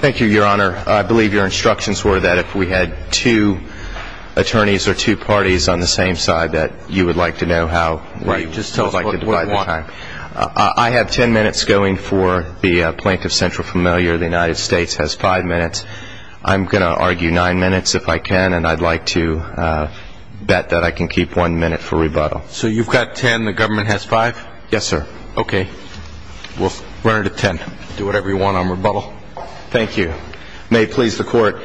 Thank you your honor. I believe your instructions were that if we had two attorneys or two parties on the same side that you would like to know how we would like to divide the time. I have ten minutes going for the Plaintiff Central Familiar. The United States has five minutes. I'm going to argue nine minutes if I can and I'd like to bet that I can keep one minute for rebuttal. So you've got ten, the government has five? Yes sir. Okay. We'll run it at ten. Do whatever you want on rebuttal. Thank you. May it please the court.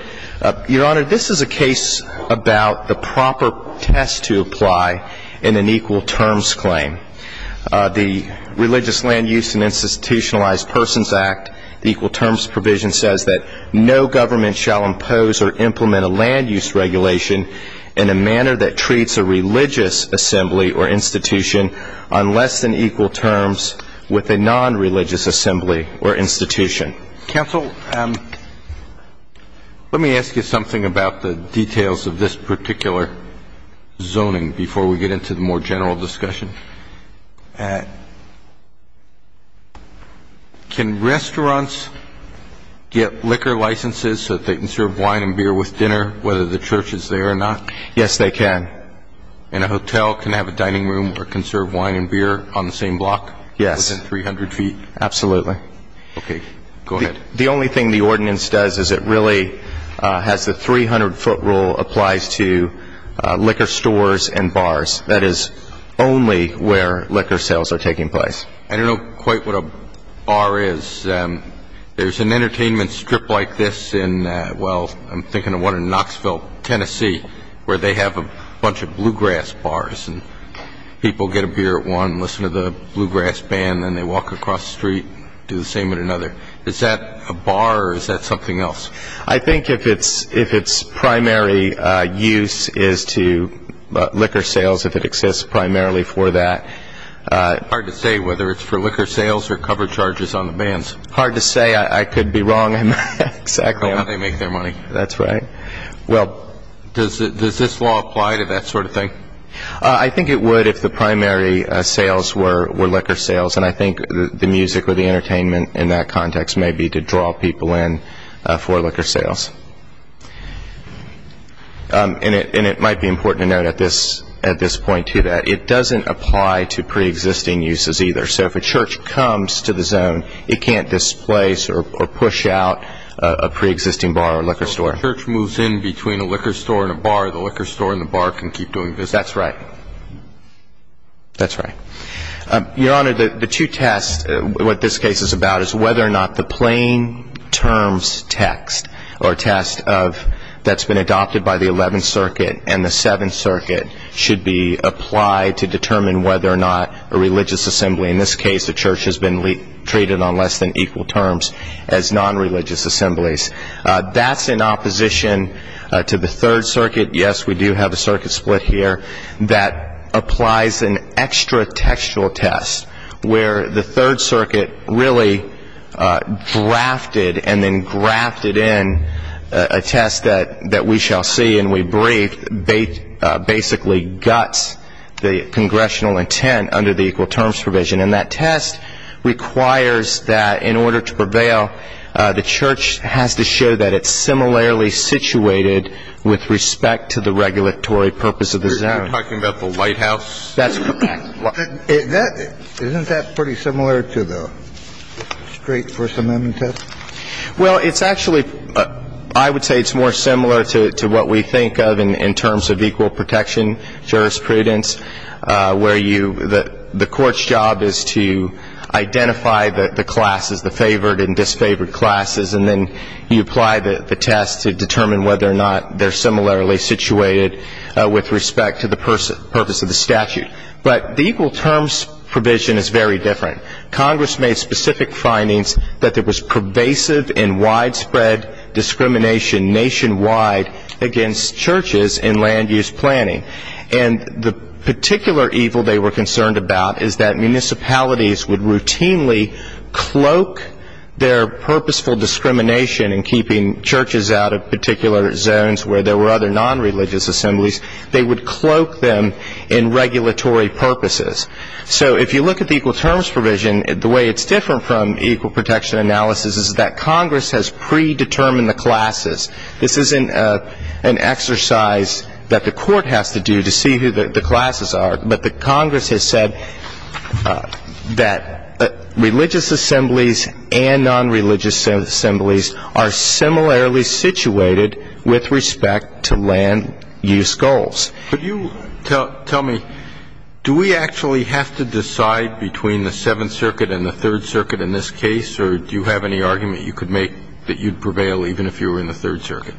Your honor, this is a case about the proper test to apply in an equal terms claim. The Religious Land Use and Institutionalized Persons Act, the equal terms provision says that no government shall impose or implement a land use regulation in a manner that treats a religious assembly or institution on less than equal terms with a non-religious assembly or institution. Counsel, let me ask you something about the details of this particular zoning before we get into the more general discussion. Can restaurants get liquor licenses so that they can serve wine and beer with dinner whether the church is there or not? Yes they can. And a hotel can have a dining room where it can serve wine and beer on the same block? Yes. Within 300 feet? Absolutely. Okay. Go ahead. The only thing the ordinance does is it really has the 300 foot rule applies to liquor stores and bars. That is only where liquor sales are taking place. I don't know quite what a bar is. There's an entertainment strip like this in, well, I'm thinking of one in Knoxville, Tennessee, where they have a bunch of bluegrass bars and people get a beer at one, listen to the bluegrass band and they walk across the street and do the same at another. Is that a bar or is that something else? I think if it's primary use is to liquor sales, if it exists primarily for that. Hard to say whether it's for liquor sales or cover charges on the bands. Hard to say, I could be wrong. Yeah, they make their money. That's right. Well, does this law apply to that sort of thing? I think it would if the primary sales were liquor sales and I think the music or the entertainment in that context may be to draw people in for liquor sales. And it might be important to note at this point too that it doesn't apply to pre-existing uses either. So if a church comes to the zone, it can't displace or push out a pre-existing bar or liquor store. So if a church moves in between a liquor store and a bar, the liquor store and the bar can keep doing business? That's right. That's right. Your Honor, the two tests, what this case is about is whether or not the plain terms text or test that's been adopted by the 11th Circuit and the 7th Circuit should be applied to determine whether or not a religious assembly, in this case the church has been treated on less than equal terms as non-religious assemblies. That's in opposition to the 3rd Circuit. Yes, we do have a circuit split here that applies an extra textual test where the 3rd Circuit really drafted and then grafted in a test that we shall see and we shall see whether or not the church has been treated on less than equal terms as non-religious assemblies. And that test requires that in order to prevail, the church has to show that it's similarly situated with respect to the regulatory purpose of the zone. Are you talking about the Lighthouse? That's correct. Isn't that pretty similar to the straight First Prudence where the court's job is to identify the classes, the favored and disfavored classes, and then you apply the test to determine whether or not they're similarly situated with respect to the purpose of the statute. But the equal terms provision is very different. Congress made specific findings that there was pervasive and widespread discrimination nationwide against churches in land use planning. And the particular evil they were concerned about is that municipalities would routinely cloak their purposeful discrimination in keeping churches out of particular zones where there were other non-religious assemblies. They would cloak them in regulatory purposes. So if you look at the equal terms provision, the way it's different from equal protection analysis is that Congress has predetermined the classes. This isn't an exercise that the court has to do to see who the classes are, but the Congress has said that religious assemblies and non-religious assemblies are similarly situated with respect to land use goals. But you tell me, do we actually have to decide between the Seventh Circuit and the Third Circuit? Is that the case, or do you have any argument you could make that you'd prevail even if you were in the Third Circuit?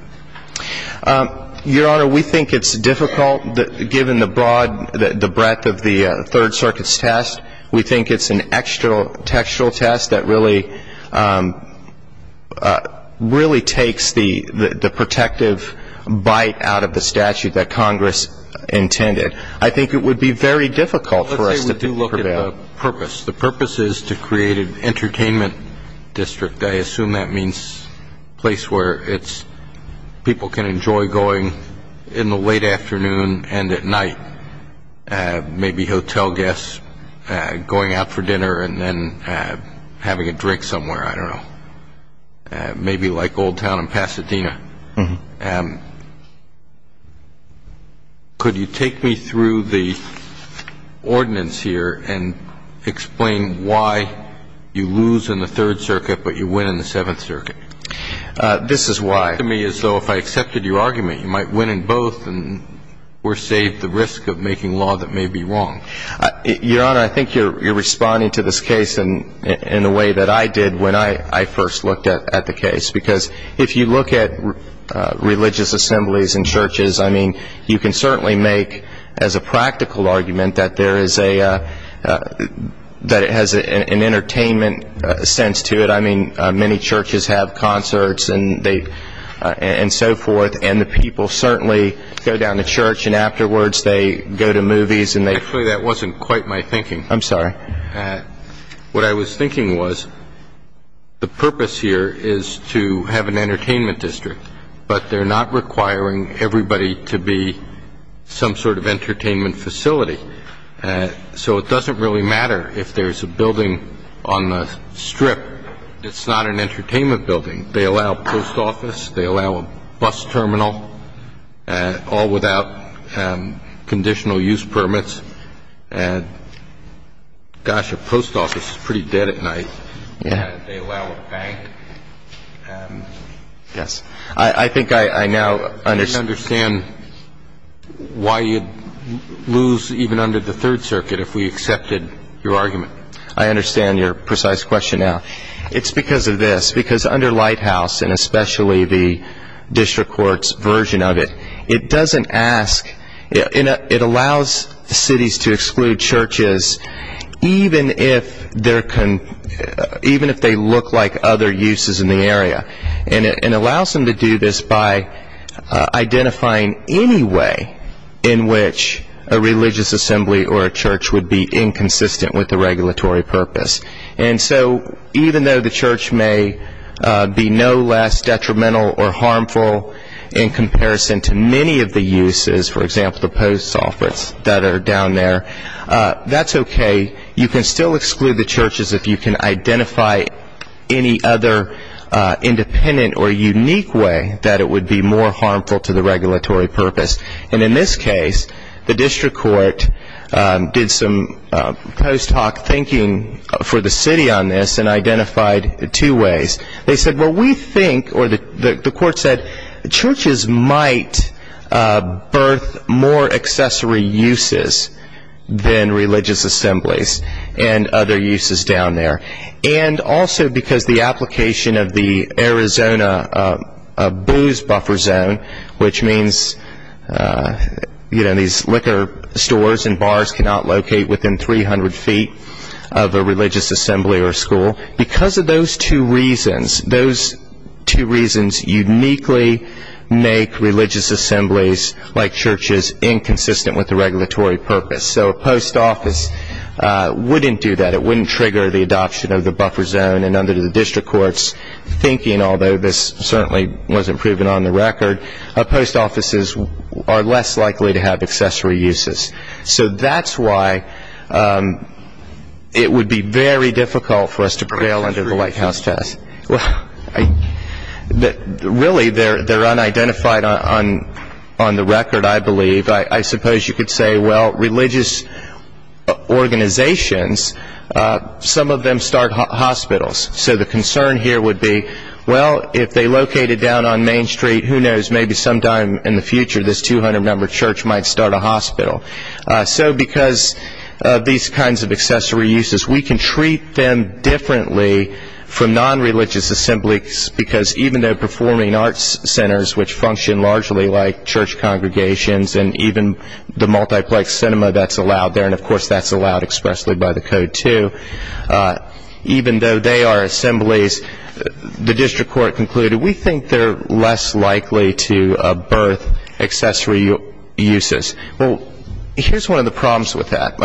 Your Honor, we think it's difficult, given the broad ‑‑ the breadth of the Third Circuit's test. We think it's an extra‑textual test that really ‑‑ really takes the protective bite out of the statute that Congress intended. I think it would be very difficult for us to prevail. The purpose is to create an entertainment district. I assume that means a place where people can enjoy going in the late afternoon and at night. Maybe hotel guests going out for dinner and then having a drink somewhere. I don't know. Maybe like Old Town and Pasadena. Could you take me through the ordinance here and explain why you lose in the Third Circuit but you win in the Seventh Circuit? This is why. To me, it's as though if I accepted your argument, you might win in both and we're saved the risk of making law that may be wrong. Your Honor, I think you're responding to this case in the way that I did when I first looked at the case. Because if you look at religious assemblies and churches, I mean, you can certainly make as a practical argument that there is a ‑‑ that it has an entertainment sense to it. I mean, many churches have concerts and they ‑‑ and so forth. And the people certainly go down to church and afterwards they go to movies and they ‑‑ Actually, that wasn't quite my thinking. I'm sorry. What I was thinking was the purpose here is to have an entertainment district. But they're not requiring everybody to be some sort of entertainment facility. So it doesn't really matter if there's a building on the strip. It's not an entertainment building. They allow post office. They allow a bus terminal. All without conditional use permits. And, gosh, a post office is pretty dead at night. And they allow a bank. Yes. I think I now understand ‑‑ I understand why you'd lose even under the Third Circuit if we accepted your argument. I understand your precise question now. It's because of this. Because under Lighthouse and especially the district court's version of it, it doesn't ask ‑‑ it allows cities to exclude churches even if they look like other uses in the area. And it allows them to do this by identifying any way in which a religious assembly or a church would be inconsistent with the regulatory purpose. And so even though the church may be no less detrimental or harmful in comparison to many of the uses, for example, the post office that are down there, that's okay. You can still exclude the churches if you can identify any other independent or unique way that it would be more harmful to the regulatory purpose. And in this case, the district court did some post hoc thinking for the city on this and identified two ways. They said, well, we think or the court said churches might birth more accessory uses than religious assemblies and other uses down there. And also because the application of the Arizona booze buffer zone, which means, you know, these liquor stores and bars cannot locate within 300 feet of a religious assembly or school, because of those two reasons, those two reasons uniquely make religious assemblies like churches inconsistent with the regulatory purpose. So a post office wouldn't do that. It wouldn't trigger the adoption of the buffer zone and under the district court's thinking, although this certainly wasn't proven on the record, post offices are less likely to have accessory uses. So that's why it would be good to have a buffer zone, but it would be very difficult for us to prevail under the White House test. Really, they're unidentified on the record, I believe. I suppose you could say, well, religious organizations, some of them start hospitals. So the concern here would be, well, if they located down on Main Street, who knows, maybe sometime in the future this 200-member church might start a hospital. So because of these kinds of accessory uses, we can treat them differently from nonreligious assemblies, because even though performing arts centers, which function largely like church congregations and even the multiplex cinema that's allowed there, and of course that's allowed expressly by the code too, even though they are assemblies, the district court concluded, we think they're less likely to birth accessory uses. Well, here's one of the problems with that.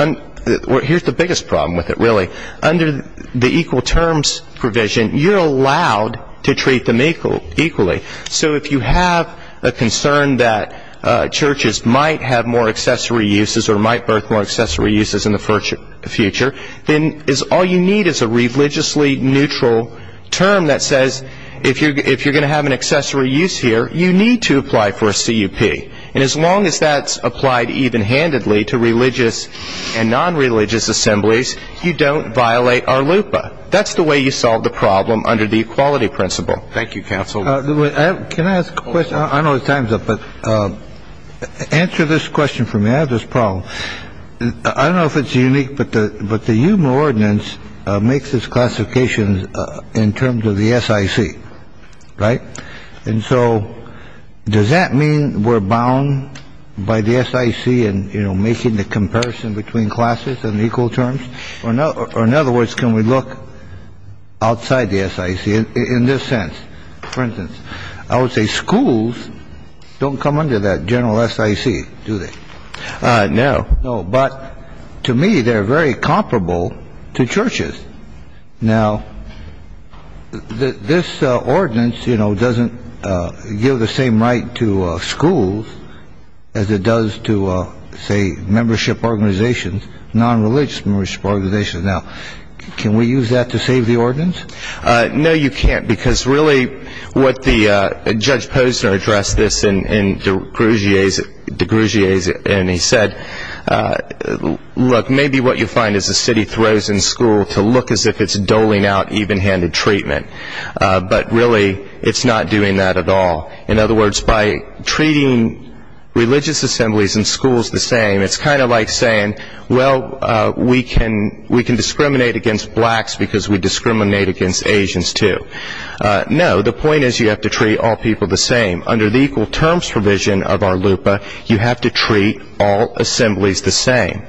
Here's the biggest problem with it, really. Under the equal terms provision, you're allowed to treat them equally. So if you have a concern that churches might have more accessory uses or might birth more accessory uses in the future, then all you need is a religiously neutral term that says, if you're going to have an accessory use here, you need to apply for a CUP. And as long as that's applied even-handedly to religious and nonreligious assemblies, you don't violate our LUPA. That's the way you solve the problem under the equality principle. Thank you, counsel. Can I ask a question? I know the time's up, but answer this question for me. I have this unique, but the human ordinance makes this classification in terms of the SIC, right? And so does that mean we're bound by the SIC and, you know, making the comparison between classes and equal terms? Or in other words, can we look outside the SIC in this sense? For instance, I would say schools don't come under that general SIC, do they? No. No. But to me, they're very comparable to churches. Now, this ordinance, you know, doesn't give the same right to schools as it does to, say, membership organizations, nonreligious membership organizations. Now, can we use that to save the ordinance? No, you can't, because really what the – Judge Posner addressed this in DeGrugier's case, and he said, look, maybe what you find is the city throws in school to look as if it's doling out evenhanded treatment. But really, it's not doing that at all. In other words, by treating religious assemblies and schools the same, it's kind of like saying, well, we can discriminate against blacks because we discriminate against Asians, too. No. The point is you have to treat all people the same. Under the equal terms provision of our LUPA, you have to treat all assemblies the same.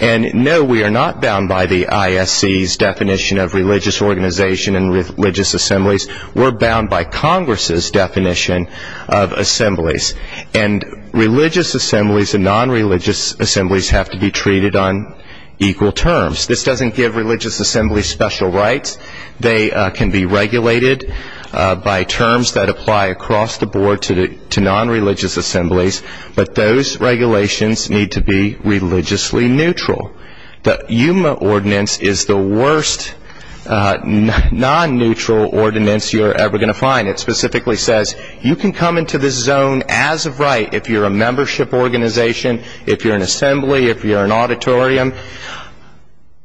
And no, we are not bound by the ISC's definition of religious organization and religious assemblies. We're bound by Congress's definition of assemblies. And religious assemblies and nonreligious assemblies have to be treated on equal terms. This doesn't give religious assemblies special rights. They can be regulated by terms that apply across the board to nonreligious assemblies, but those regulations need to be religiously neutral. The Yuma ordinance is the worst nonneutral ordinance you're ever going to find. It specifically says you can come into this zone as of right if you're a membership organization, if you're a nonreligious assembly. It's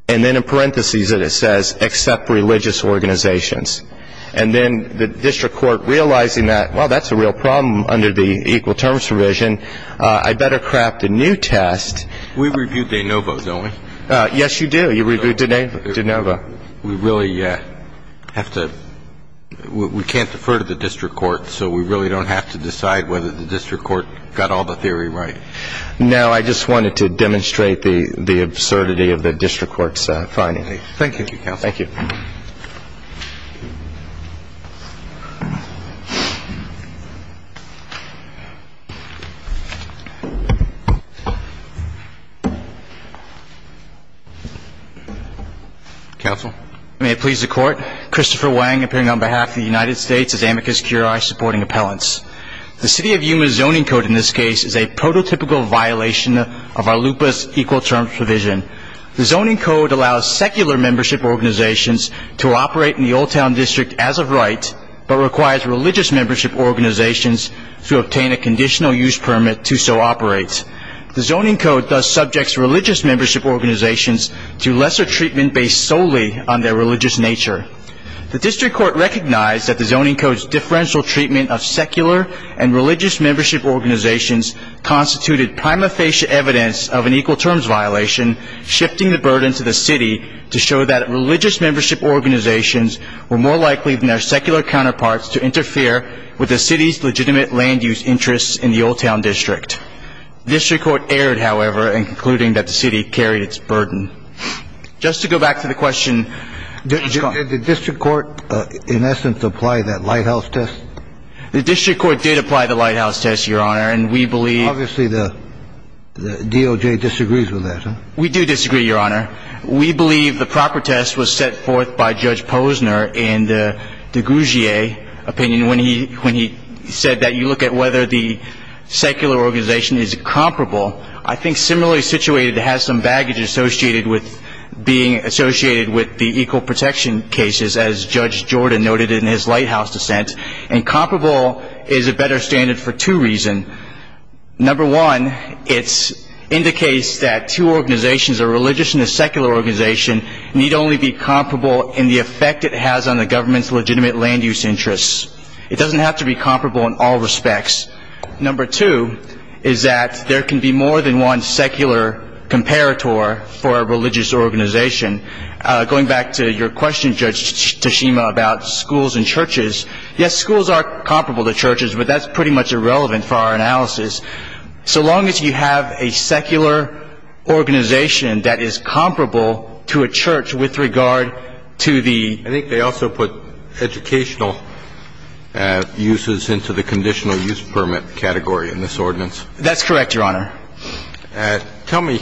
in parentheses that it says, except religious organizations. And then the district court realizing that, well, that's a real problem under the equal terms provision, I'd better craft a new test. We review de novo, don't we? Yes, you do. You review de novo. We really have to, we can't defer to the district court, so we really don't have to decide whether the district court got all the theory right. Now, I just wanted to demonstrate the absurdity of the district court's finding. Thank you, counsel. Thank you. Counsel. May it please the court, Christopher Wang, appearing on behalf of the United States as amicus curiae supporting appellants. The city of Yuma zoning code in this case is a prototypical violation of our LUPA's equal terms provision. The zoning code allows secular membership organizations to operate in the Old Town District as of right, but requires religious membership organizations to obtain a conditional use permit to so operate. The zoning code thus subjects religious membership organizations to lesser treatment based solely on their religious nature. The district court recognized that the zoning code's differential treatment of secular and religious membership organizations constituted prima facie evidence of an equal terms violation, shifting the burden to the city to show that religious membership organizations were more likely than their secular counterparts to interfere with the city's legitimate land use interests in the Old Town District. District court erred, however, in concluding that the city carried its burden. Just to go back to the question, did the district court, in essence, apply that lighthouse test? The district court did apply the lighthouse test, Your Honor, and we believe. Obviously, the DOJ disagrees with that. We do disagree, Your Honor. We believe the proper test was set forth by Judge Posner in the DeGugier opinion when he when he said that you look at whether the secular organization is comparable. I think similarly situated has some baggage associated with being associated with the equal protection cases, as Judge Jordan noted in his lighthouse dissent. And comparable is a better standard for two reasons. Number one, it indicates that two organizations, a religious and a secular organization, need only be comparable in the effect it has on the government's legitimate land use interests. It doesn't have to be comparable in all respects. Number two is that there can be more than one secular comparator for a religious organization. Going back to your question, Judge Tashima, about schools and churches, yes, schools are comparable to churches, but that's pretty much irrelevant for our analysis. So long as you have a secular organization that is comparable to a church with regard to the I think they also put educational uses into the conditional use permit category in this ordinance. That's correct, Your Honor. Tell me,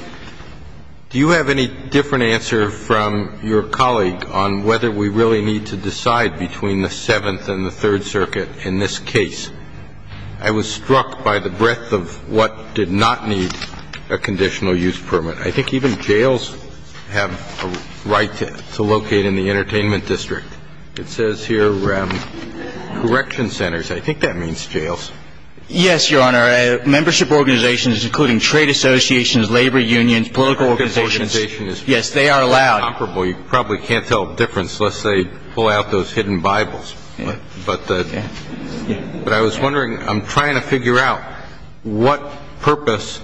do you have any different answer from your colleague on whether we really need to decide between the Seventh and the Third Circuit in this case? I was struck by the breadth of what did not need a conditional use permit. I think even jails have a right to locate in the entertainment district. It says here correction centers. I think that means jails. Yes, Your Honor. Membership organizations, including trade associations, labor unions, political organizations. Yes, they are allowed. You probably can't tell the difference unless they pull out those hidden Bibles. But I was wondering, I'm trying to figure out what purpose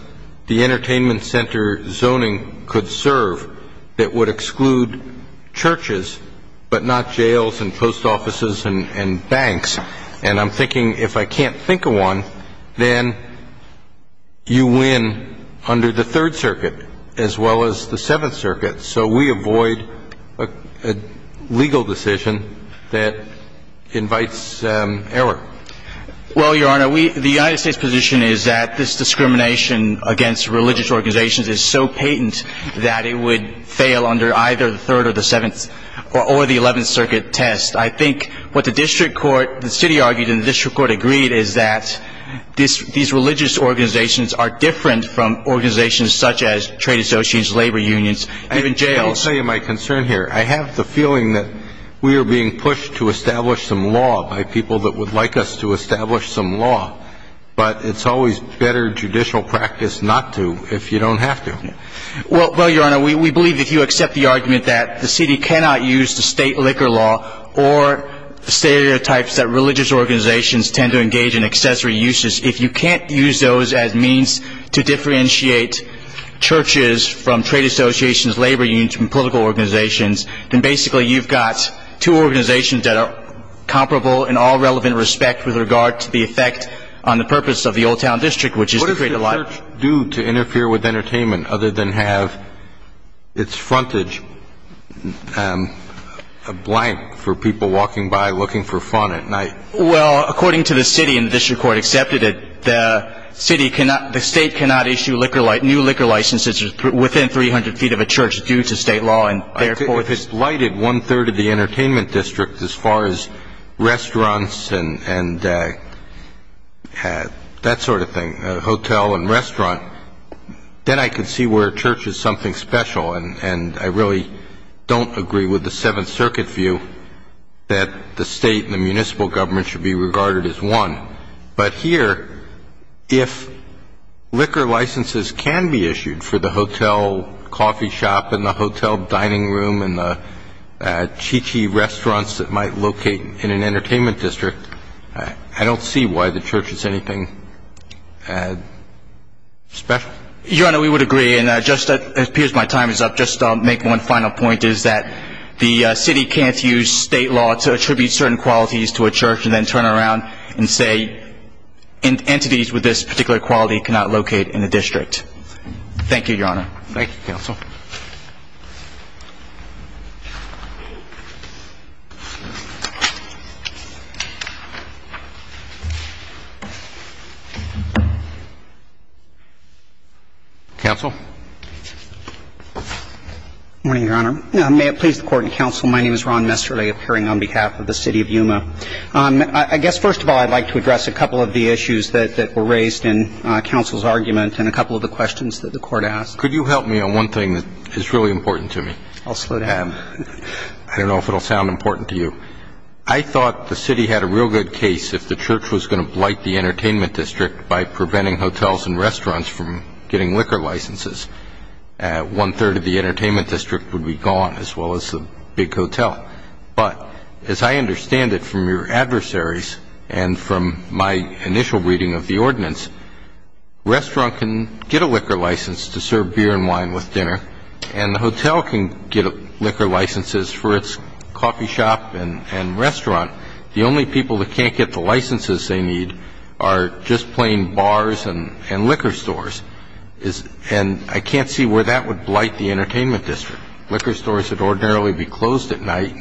the entertainment center zoning could serve that would exclude churches, but not jails and post offices and banks. And I'm thinking if I can't think of one, then you win under the Third Circuit as well as the Seventh Circuit. So we avoid a legal decision that invites error. Well, Your Honor, the United States' position is that this discrimination against religious organizations is so patent that it would fail under either the Third or the Seventh or the Eleventh Circuit test. I think what the district court, the city argued and the district court agreed is that these religious organizations are different from organizations such as trade associations, labor unions, even jails. I will tell you my concern here. I have the feeling that we are being pushed to establish some law by people that would like us to establish some law. But it's always better judicial practice not to if you don't have to. Well, Your Honor, we believe if you accept the argument that the city cannot use the state liquor law or stereotypes that religious organizations tend to engage in accessory uses, if you can't use those as means to differentiate churches from trade associations, labor unions from political organizations, then basically you've got two organizations that are comparable in all relevant respect with regard to the effect on the purpose of the Old Town District, which is to create a lot of... What is the church due to interfere with entertainment other than have its frontage blank for people walking by looking for fun at night? Well, according to the city and the district court accepted it, the city cannot, the state cannot issue liquor, new liquor licenses within 300 feet of a church due to state law and therefore... Well, if it's lighted one-third of the entertainment district as far as restaurants and that sort of thing, hotel and restaurant, then I can see where church is something special. And I really don't agree with the Seventh Circuit view that the state and the municipal government should be regarded as one. But here, if liquor licenses can be issued for the hotel coffee shop and the hotel dining room and the chi-chi restaurants that might locate in an entertainment district, I don't see why the church is anything special. Your Honor, we would agree. And it appears my time is up. Just to make one final point is that the city can't use state law to attribute certain qualities to a church and then turn around and say entities with this particular quality cannot locate Thank you, Your Honor. Thank you, counsel. Counsel? Good morning, Your Honor. May it please the Court and counsel, my name is Ron Messerly appearing on behalf of the city of Yuma. I guess, first of all, I'd like to address a couple of the issues that were raised in counsel's argument and a couple of the questions that the Court asked. I'm a member of the City of Yuma's Council of the Arts and Sciences. I have a question that is really important to me. I'll slow down. I don't know if it will sound important to you. I thought the city had a real good case if the church was going to blight the entertainment district by preventing hotels and restaurants from getting liquor licenses. One-third of the entertainment district would be gone as well as the big hotel. But as I understand it from your adversaries and from my initial reading of the ordinance, restaurant can get a liquor license to serve beer and wine with dinner and the hotel can get liquor licenses for its coffee shop and restaurant. The only people that can't get the licenses they need are just plain bars and liquor stores. And I can't see where that would blight the entertainment district. Liquor stores would ordinarily be closed at night.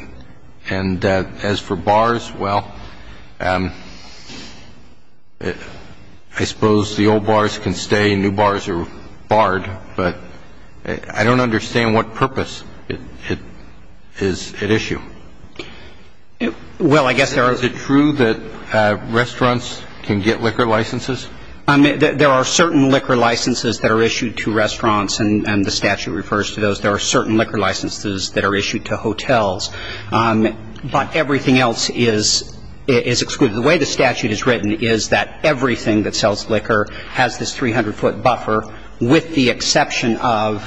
And as for bars, well, I suppose the old bars can stay. New bars are barred. But I don't understand what purpose it is at issue. Well, I guess there are. Is it true that restaurants can get liquor licenses? There are certain liquor licenses that are issued to restaurants, and the statute refers to those. There are certain liquor licenses that are issued to hotels. But everything else is excluded. The way the statute is written is that everything that sells liquor has this 300-foot buffer, with the exception of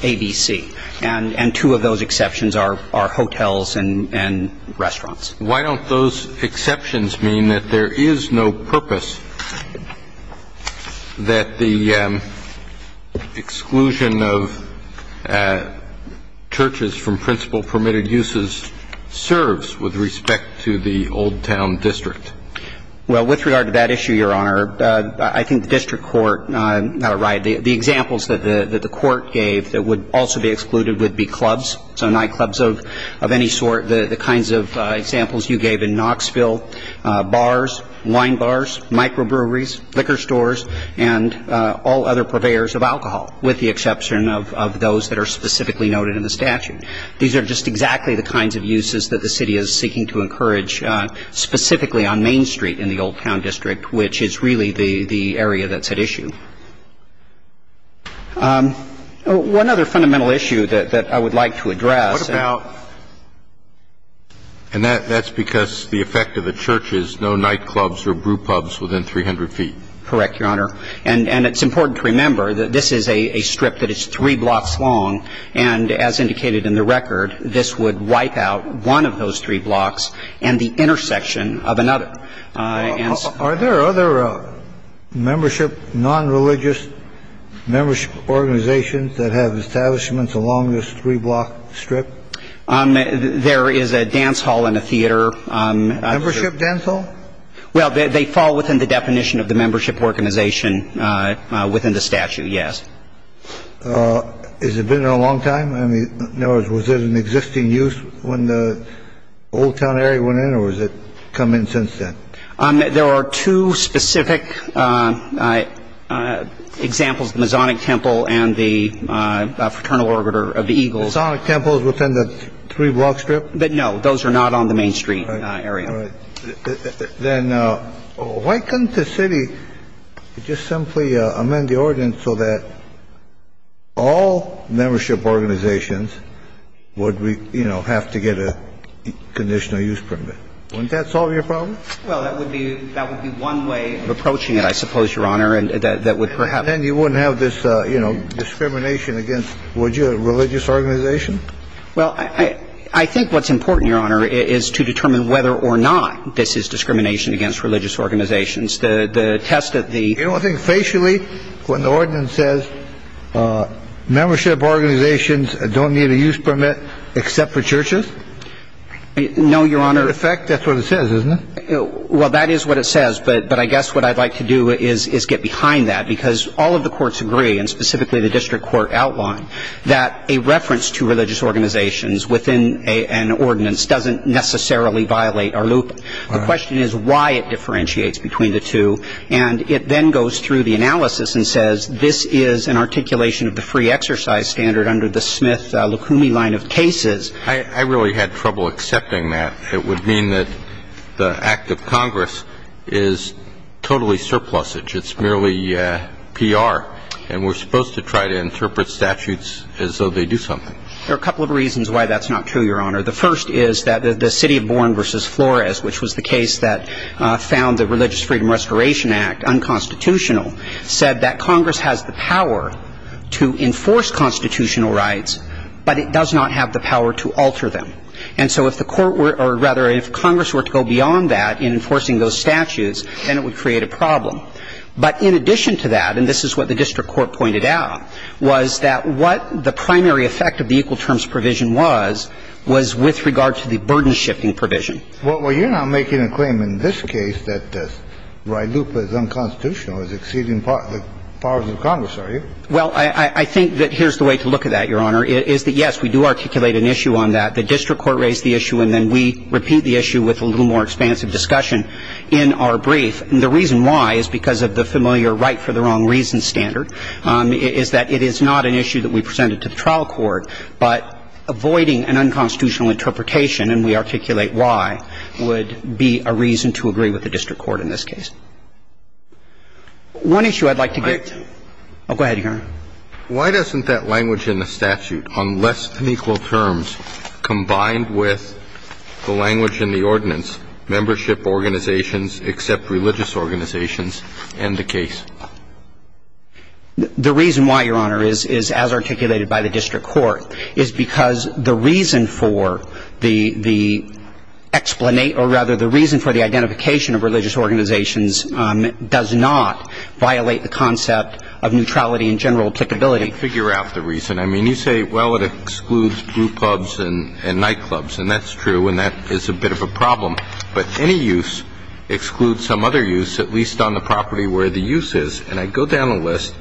ABC. And two of those exceptions are hotels and restaurants. Why don't those exceptions mean that there is no purpose that the exclusion of churches from principle-permitted uses serves with respect to the Old Town District? Well, with regard to that issue, Your Honor, I think the district court, not a riot, the examples that the court gave that would also be excluded would be clubs, so nightclubs of any sort, the kinds of examples you gave in Knoxville, bars, wine bars, microbreweries, liquor stores, and all other purveyors of alcohol, with the exception of those that are specifically noted in the statute. These are just exactly the kinds of uses that the city is seeking to encourage, specifically on Main Street in the Old Town District, which is really the area that's at issue. One other fundamental issue that I would like to address. What about – and that's because the effect of the church is no nightclubs or brewpubs within 300 feet. Correct, Your Honor. And it's important to remember that this is a strip that is three blocks long, and as indicated in the record, this would wipe out one of those three blocks and the intersection of another. Are there other membership, nonreligious membership organizations that have establishments along this three-block strip? There is a dance hall and a theater. Membership dance hall? Well, they fall within the definition of the membership organization within the statute, yes. Has it been there a long time? In other words, was it in existing use when the Old Town area went in, or has it come in since then? There are two specific examples, the Masonic Temple and the Fraternal Orbiter of the Eagles. The Masonic Temple is within the three-block strip? No, those are not on the Main Street area. All right. Then why couldn't the city just simply amend the ordinance so that all membership organizations would, you know, have to get a conditional use permit? Wouldn't that solve your problem? Well, that would be one way of approaching it, I suppose, Your Honor, and that would perhaps. And then you wouldn't have this, you know, discrimination against, would you, a religious organization? Well, I think what's important, Your Honor, is to determine whether or not this is discrimination against religious organizations. The test of the... You don't think facially when the ordinance says membership organizations don't need a use permit except for churches? No, Your Honor. In effect, that's what it says, isn't it? Well, that is what it says, but I guess what I'd like to do is get behind that because all of the courts agree, and specifically the district court outlined, that a reference to religious organizations within an ordinance doesn't necessarily violate our loop. The question is why it differentiates between the two. And it then goes through the analysis and says this is an articulation of the free exercise standard under the Smith-Lukumi line of cases. I really had trouble accepting that. It would mean that the act of Congress is totally surplusage. It's merely PR, and we're supposed to try to interpret statutes as though they do something. There are a couple of reasons why that's not true, Your Honor. The first is that the city of Bourne v. Flores, which was the case that found the Religious Freedom Restoration Act unconstitutional, said that Congress has the power to enforce constitutional rights, but it does not have the power to alter them. And so if the court were or, rather, if Congress were to go beyond that in enforcing those statutes, then it would create a problem. But in addition to that, and this is what the district court pointed out, was that what the primary effect of the equal terms provision was, was with regard to the burden-shifting provision. Well, you're not making a claim in this case that this right loop is unconstitutional, is exceeding the powers of Congress, are you? Well, I think that here's the way to look at that, Your Honor, is that, yes, we do articulate an issue on that. The district court raised the issue, and then we repeat the issue with a little more expansive discussion in our brief. And the reason why is because of the familiar right-for-the-wrong-reasons standard, is that it is not an issue that we presented to the trial court. But avoiding an unconstitutional interpretation, and we articulate why, would be a reason to agree with the district court in this case. One issue I'd like to get to. Oh, go ahead, Your Honor. Why doesn't that language in the statute, on less than equal terms, combined with the language in the ordinance, membership organizations except religious organizations, end the case? The reason why, Your Honor, is as articulated by the district court, is because the reason for the explanation, or rather the reason for the identification of religious organizations, does not violate the concept of neutrality in general applicability. I can't figure out the reason. I mean, you say, well, it excludes group clubs and nightclubs, and that's true, and that is a bit of a problem. But any use excludes some other use, at least on the property where the use is. And I go down the list,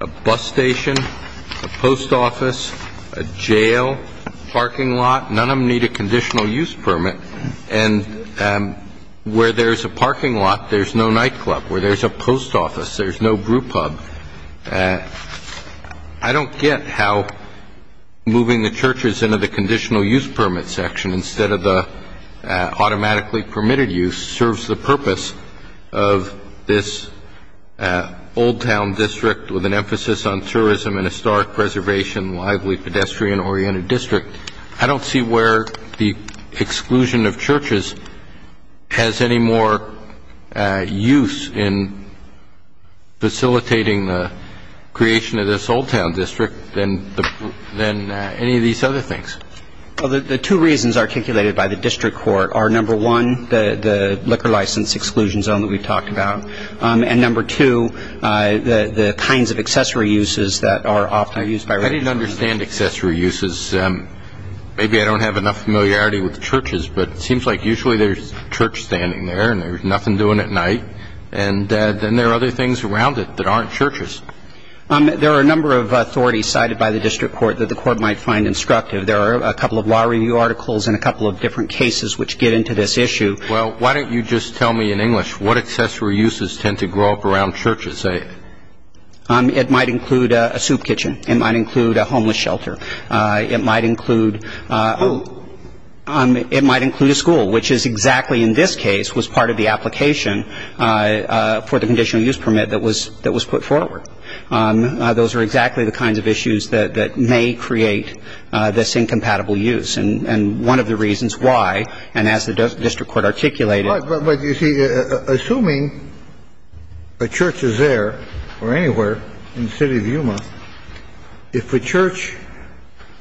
a bus station, a post office, a jail, a parking lot, none of them need a conditional use permit. And where there's a parking lot, there's no nightclub. Where there's a post office, there's no group club. I don't get how moving the churches into the conditional use permit section instead of the automatically permitted use serves the purpose of this old town district with an emphasis on tourism and historic preservation, lively pedestrian-oriented district. I don't see where the exclusion of churches has any more use in facilitating the creation of this old town district than any of these other things. Well, the two reasons articulated by the district court are, number one, the liquor license exclusion zone that we talked about, and number two, the kinds of accessory uses that are often used by religious organizations. I didn't understand accessory uses. Maybe I don't have enough familiarity with churches, but it seems like usually there's a church standing there and there's nothing doing at night, and then there are other things around it that aren't churches. There are a number of authorities cited by the district court that the court might find instructive. There are a couple of law review articles and a couple of different cases which get into this issue. Well, why don't you just tell me in English what accessory uses tend to grow up around churches? I'm sorry. It might include a soup kitchen. It might include a homeless shelter. It might include a school, which is exactly in this case was part of the application for the conditional use permit that was put forward. Those are exactly the kinds of issues that may create this incompatible use. And one of the reasons why, and as the district court articulated — But, you see, assuming a church is there or anywhere in the city of Yuma, if a church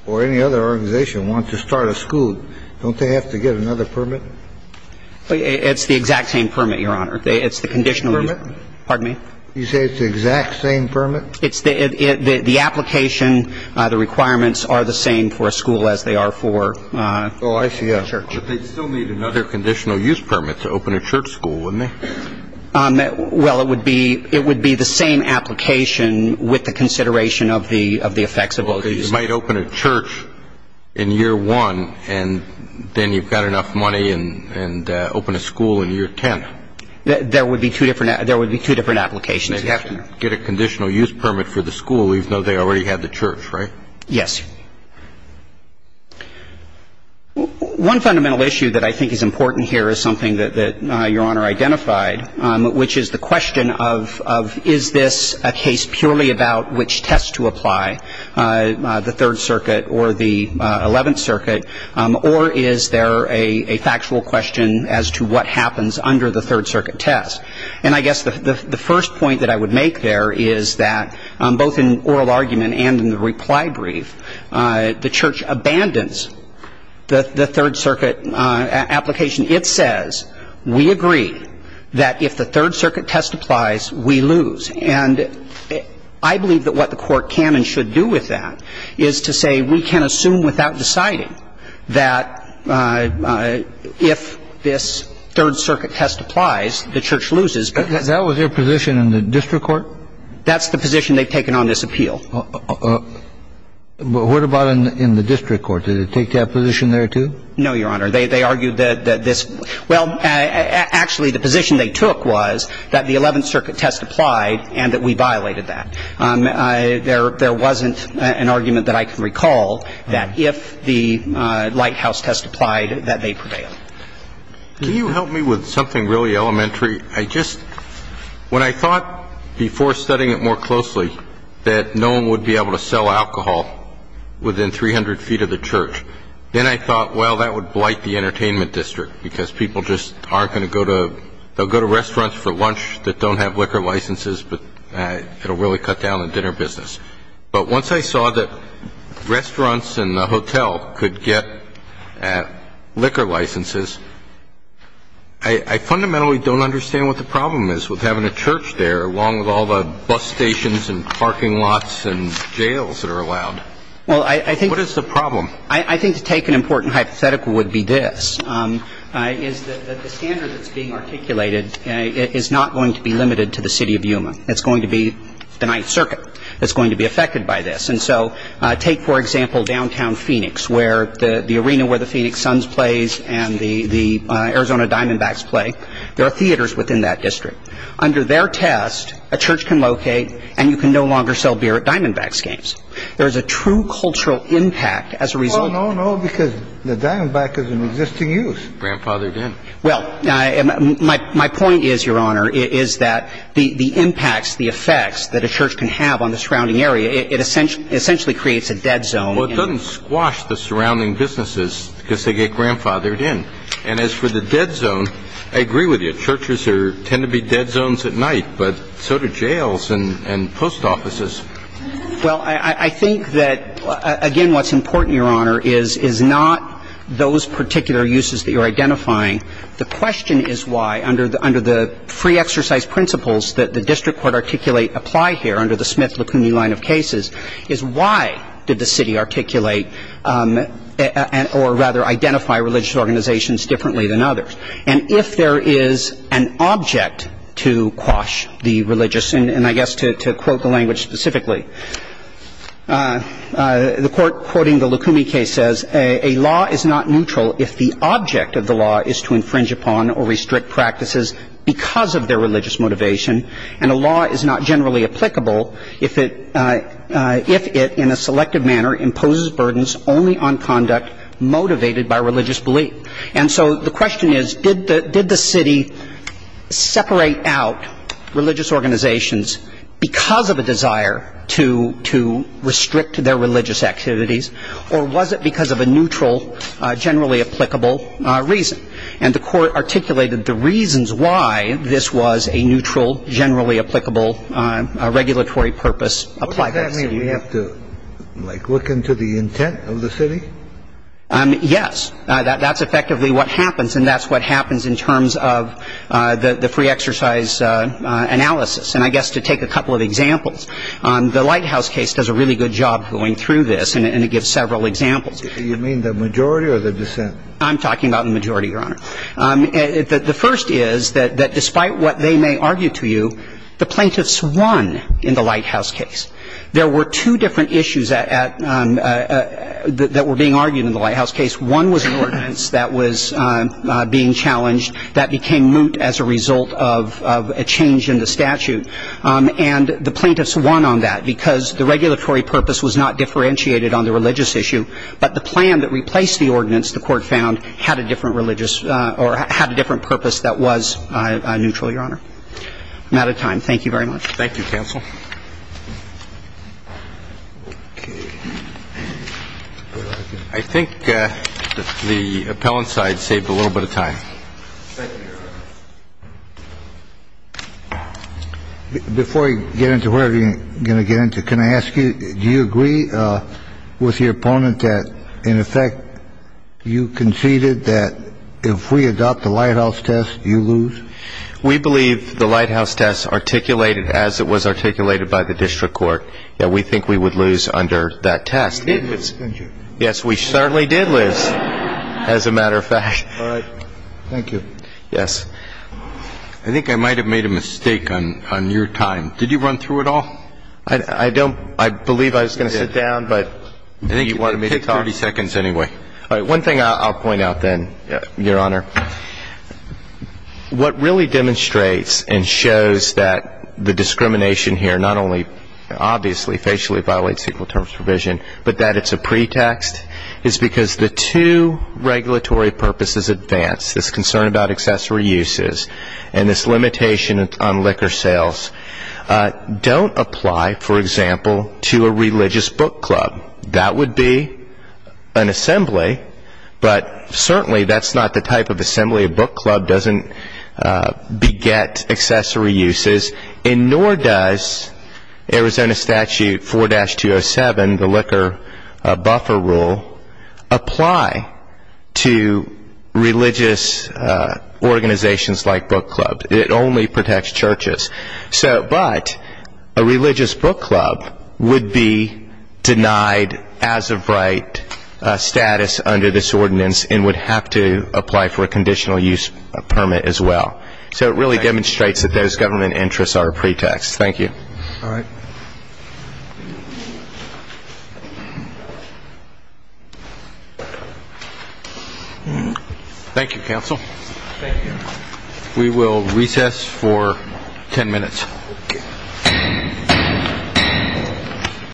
or any other organization wants to start a school, don't they have to get another permit? It's the exact same permit, Your Honor. It's the conditional — Permit? Pardon me? You say it's the exact same permit? The application, the requirements are the same for a school as they are for a church. Oh, I see. But they'd still need another conditional use permit to open a church school, wouldn't they? Well, it would be the same application with the consideration of the effects of all these. Well, you might open a church in year one, and then you've got enough money and open a school in year 10. There would be two different applications. They'd have to get a conditional use permit for the school, even though they already had the church, right? Yes. One fundamental issue that I think is important here is something that Your Honor identified, which is the question of is this a case purely about which test to apply, the Third Circuit or the Eleventh Circuit, or is there a factual question as to what happens under the Third Circuit test? And I guess the first point that I would make there is that both in oral argument and in the reply brief, the church abandons the Third Circuit application. It says we agree that if the Third Circuit test applies, we lose. And I believe that what the court can and should do with that is to say we can assume without deciding that if this Third Circuit test applies, the church loses. That was their position in the district court? That's the position they've taken on this appeal. But what about in the district court? Did it take that position there, too? No, Your Honor. They argued that this — well, actually, the position they took was that the Eleventh Circuit test applied and that we violated that. There wasn't an argument that I can recall that if the Lighthouse test applied, that they prevailed. Can you help me with something really elementary? I just — when I thought before studying it more closely that no one would be able to sell alcohol within 300 feet of the church, then I thought, well, that would blight the entertainment district because people just aren't going to go to — they'll go to restaurants for lunch that don't have liquor licenses, but it will really cut down on dinner business. But once I saw that restaurants and the hotel could get liquor licenses, I fundamentally don't understand what the problem is with having a church there, along with all the bus stations and parking lots and jails that are allowed. Well, I think — What is the problem? I think to take an important hypothetical would be this, is that the standard that's being articulated is not going to be limited to the city of Yuma. It's going to be the Ninth Circuit. It's going to be affected by this. And so take, for example, downtown Phoenix, where the arena where the Phoenix Suns plays and the Arizona Diamondbacks play. There are theaters within that district. Under their test, a church can locate and you can no longer sell beer at Diamondbacks games. There is a true cultural impact as a result. Oh, no, no, because the Diamondback is an existing use. Grandfathered in. Well, my point is, Your Honor, is that the impacts, the effects that a church can have on the surrounding area, it essentially creates a dead zone. Well, it doesn't squash the surrounding businesses because they get grandfathered in. And as for the dead zone, I agree with you. Churches tend to be dead zones at night, but so do jails and post offices. Well, I think that, again, what's important, Your Honor, is not those particular uses that you're identifying. The question is why, under the free exercise principles that the district court articulate apply here under the Smith-Lacunae line of cases, is why did the city articulate or, rather, identify religious organizations differently than others? And if there is an object to quash the religious, and I guess to quote the language specifically, the court quoting the Lacunae case says, A law is not neutral if the object of the law is to infringe upon or restrict practices because of their religious motivation. And a law is not generally applicable if it, in a selective manner, imposes burdens only on conduct motivated by religious belief. And so the question is, did the city separate out religious organizations because of a desire to restrict their religious activities, or was it because of a neutral, generally applicable reason? And the court articulated the reasons why this was a neutral, generally applicable regulatory purpose apply. What does that mean? Do we have to, like, look into the intent of the city? Yes. That's effectively what happens, and that's what happens in terms of the free exercise analysis. And I guess to take a couple of examples, the Lighthouse case does a really good job going through this, and it gives several examples. Do you mean the majority or the dissent? I'm talking about the majority, Your Honor. The first is that despite what they may argue to you, the plaintiffs won in the Lighthouse case. There were two different issues that were being argued in the Lighthouse case. One was an ordinance that was being challenged that became moot as a result of a change in the statute. And the plaintiffs won on that because the regulatory purpose was not differentiated on the religious issue, but the plan that replaced the ordinance, the court found, had a different religious or had a different purpose that was neutral, Your Honor. I'm out of time. Thank you very much. Thank you, counsel. Thank you. I think the appellant side saved a little bit of time. Before I get into where I'm going to get into, can I ask you, do you agree with your opponent that, in effect, you conceded that if we adopt the Lighthouse test, you lose? We believe the Lighthouse test articulated as it was articulated by the district court that we think we would lose under that test. You did lose, didn't you? Yes, we certainly did lose, as a matter of fact. All right. Thank you. Yes. I think I might have made a mistake on your time. Did you run through it all? I don't. I believe I was going to sit down, but you wanted me to talk. Take 30 seconds anyway. All right. One thing I'll point out then, Your Honor. What really demonstrates and shows that the discrimination here not only, obviously, facially violates Equal Terms of Provision, but that it's a pretext, is because the two regulatory purposes advanced, this concern about accessory uses and this limitation on liquor sales, don't apply, for example, to a religious book club. That would be an assembly, but certainly that's not the type of assembly a book club doesn't beget accessory uses, and nor does Arizona Statute 4-207, the liquor buffer rule, apply to religious organizations like book clubs. It only protects churches. But a religious book club would be denied as-of-right status under this ordinance and would have to apply for a conditional use permit as well. So it really demonstrates that those government interests are a pretext. Thank you. All right. Thank you, counsel. Thank you. We will recess for 10 minutes.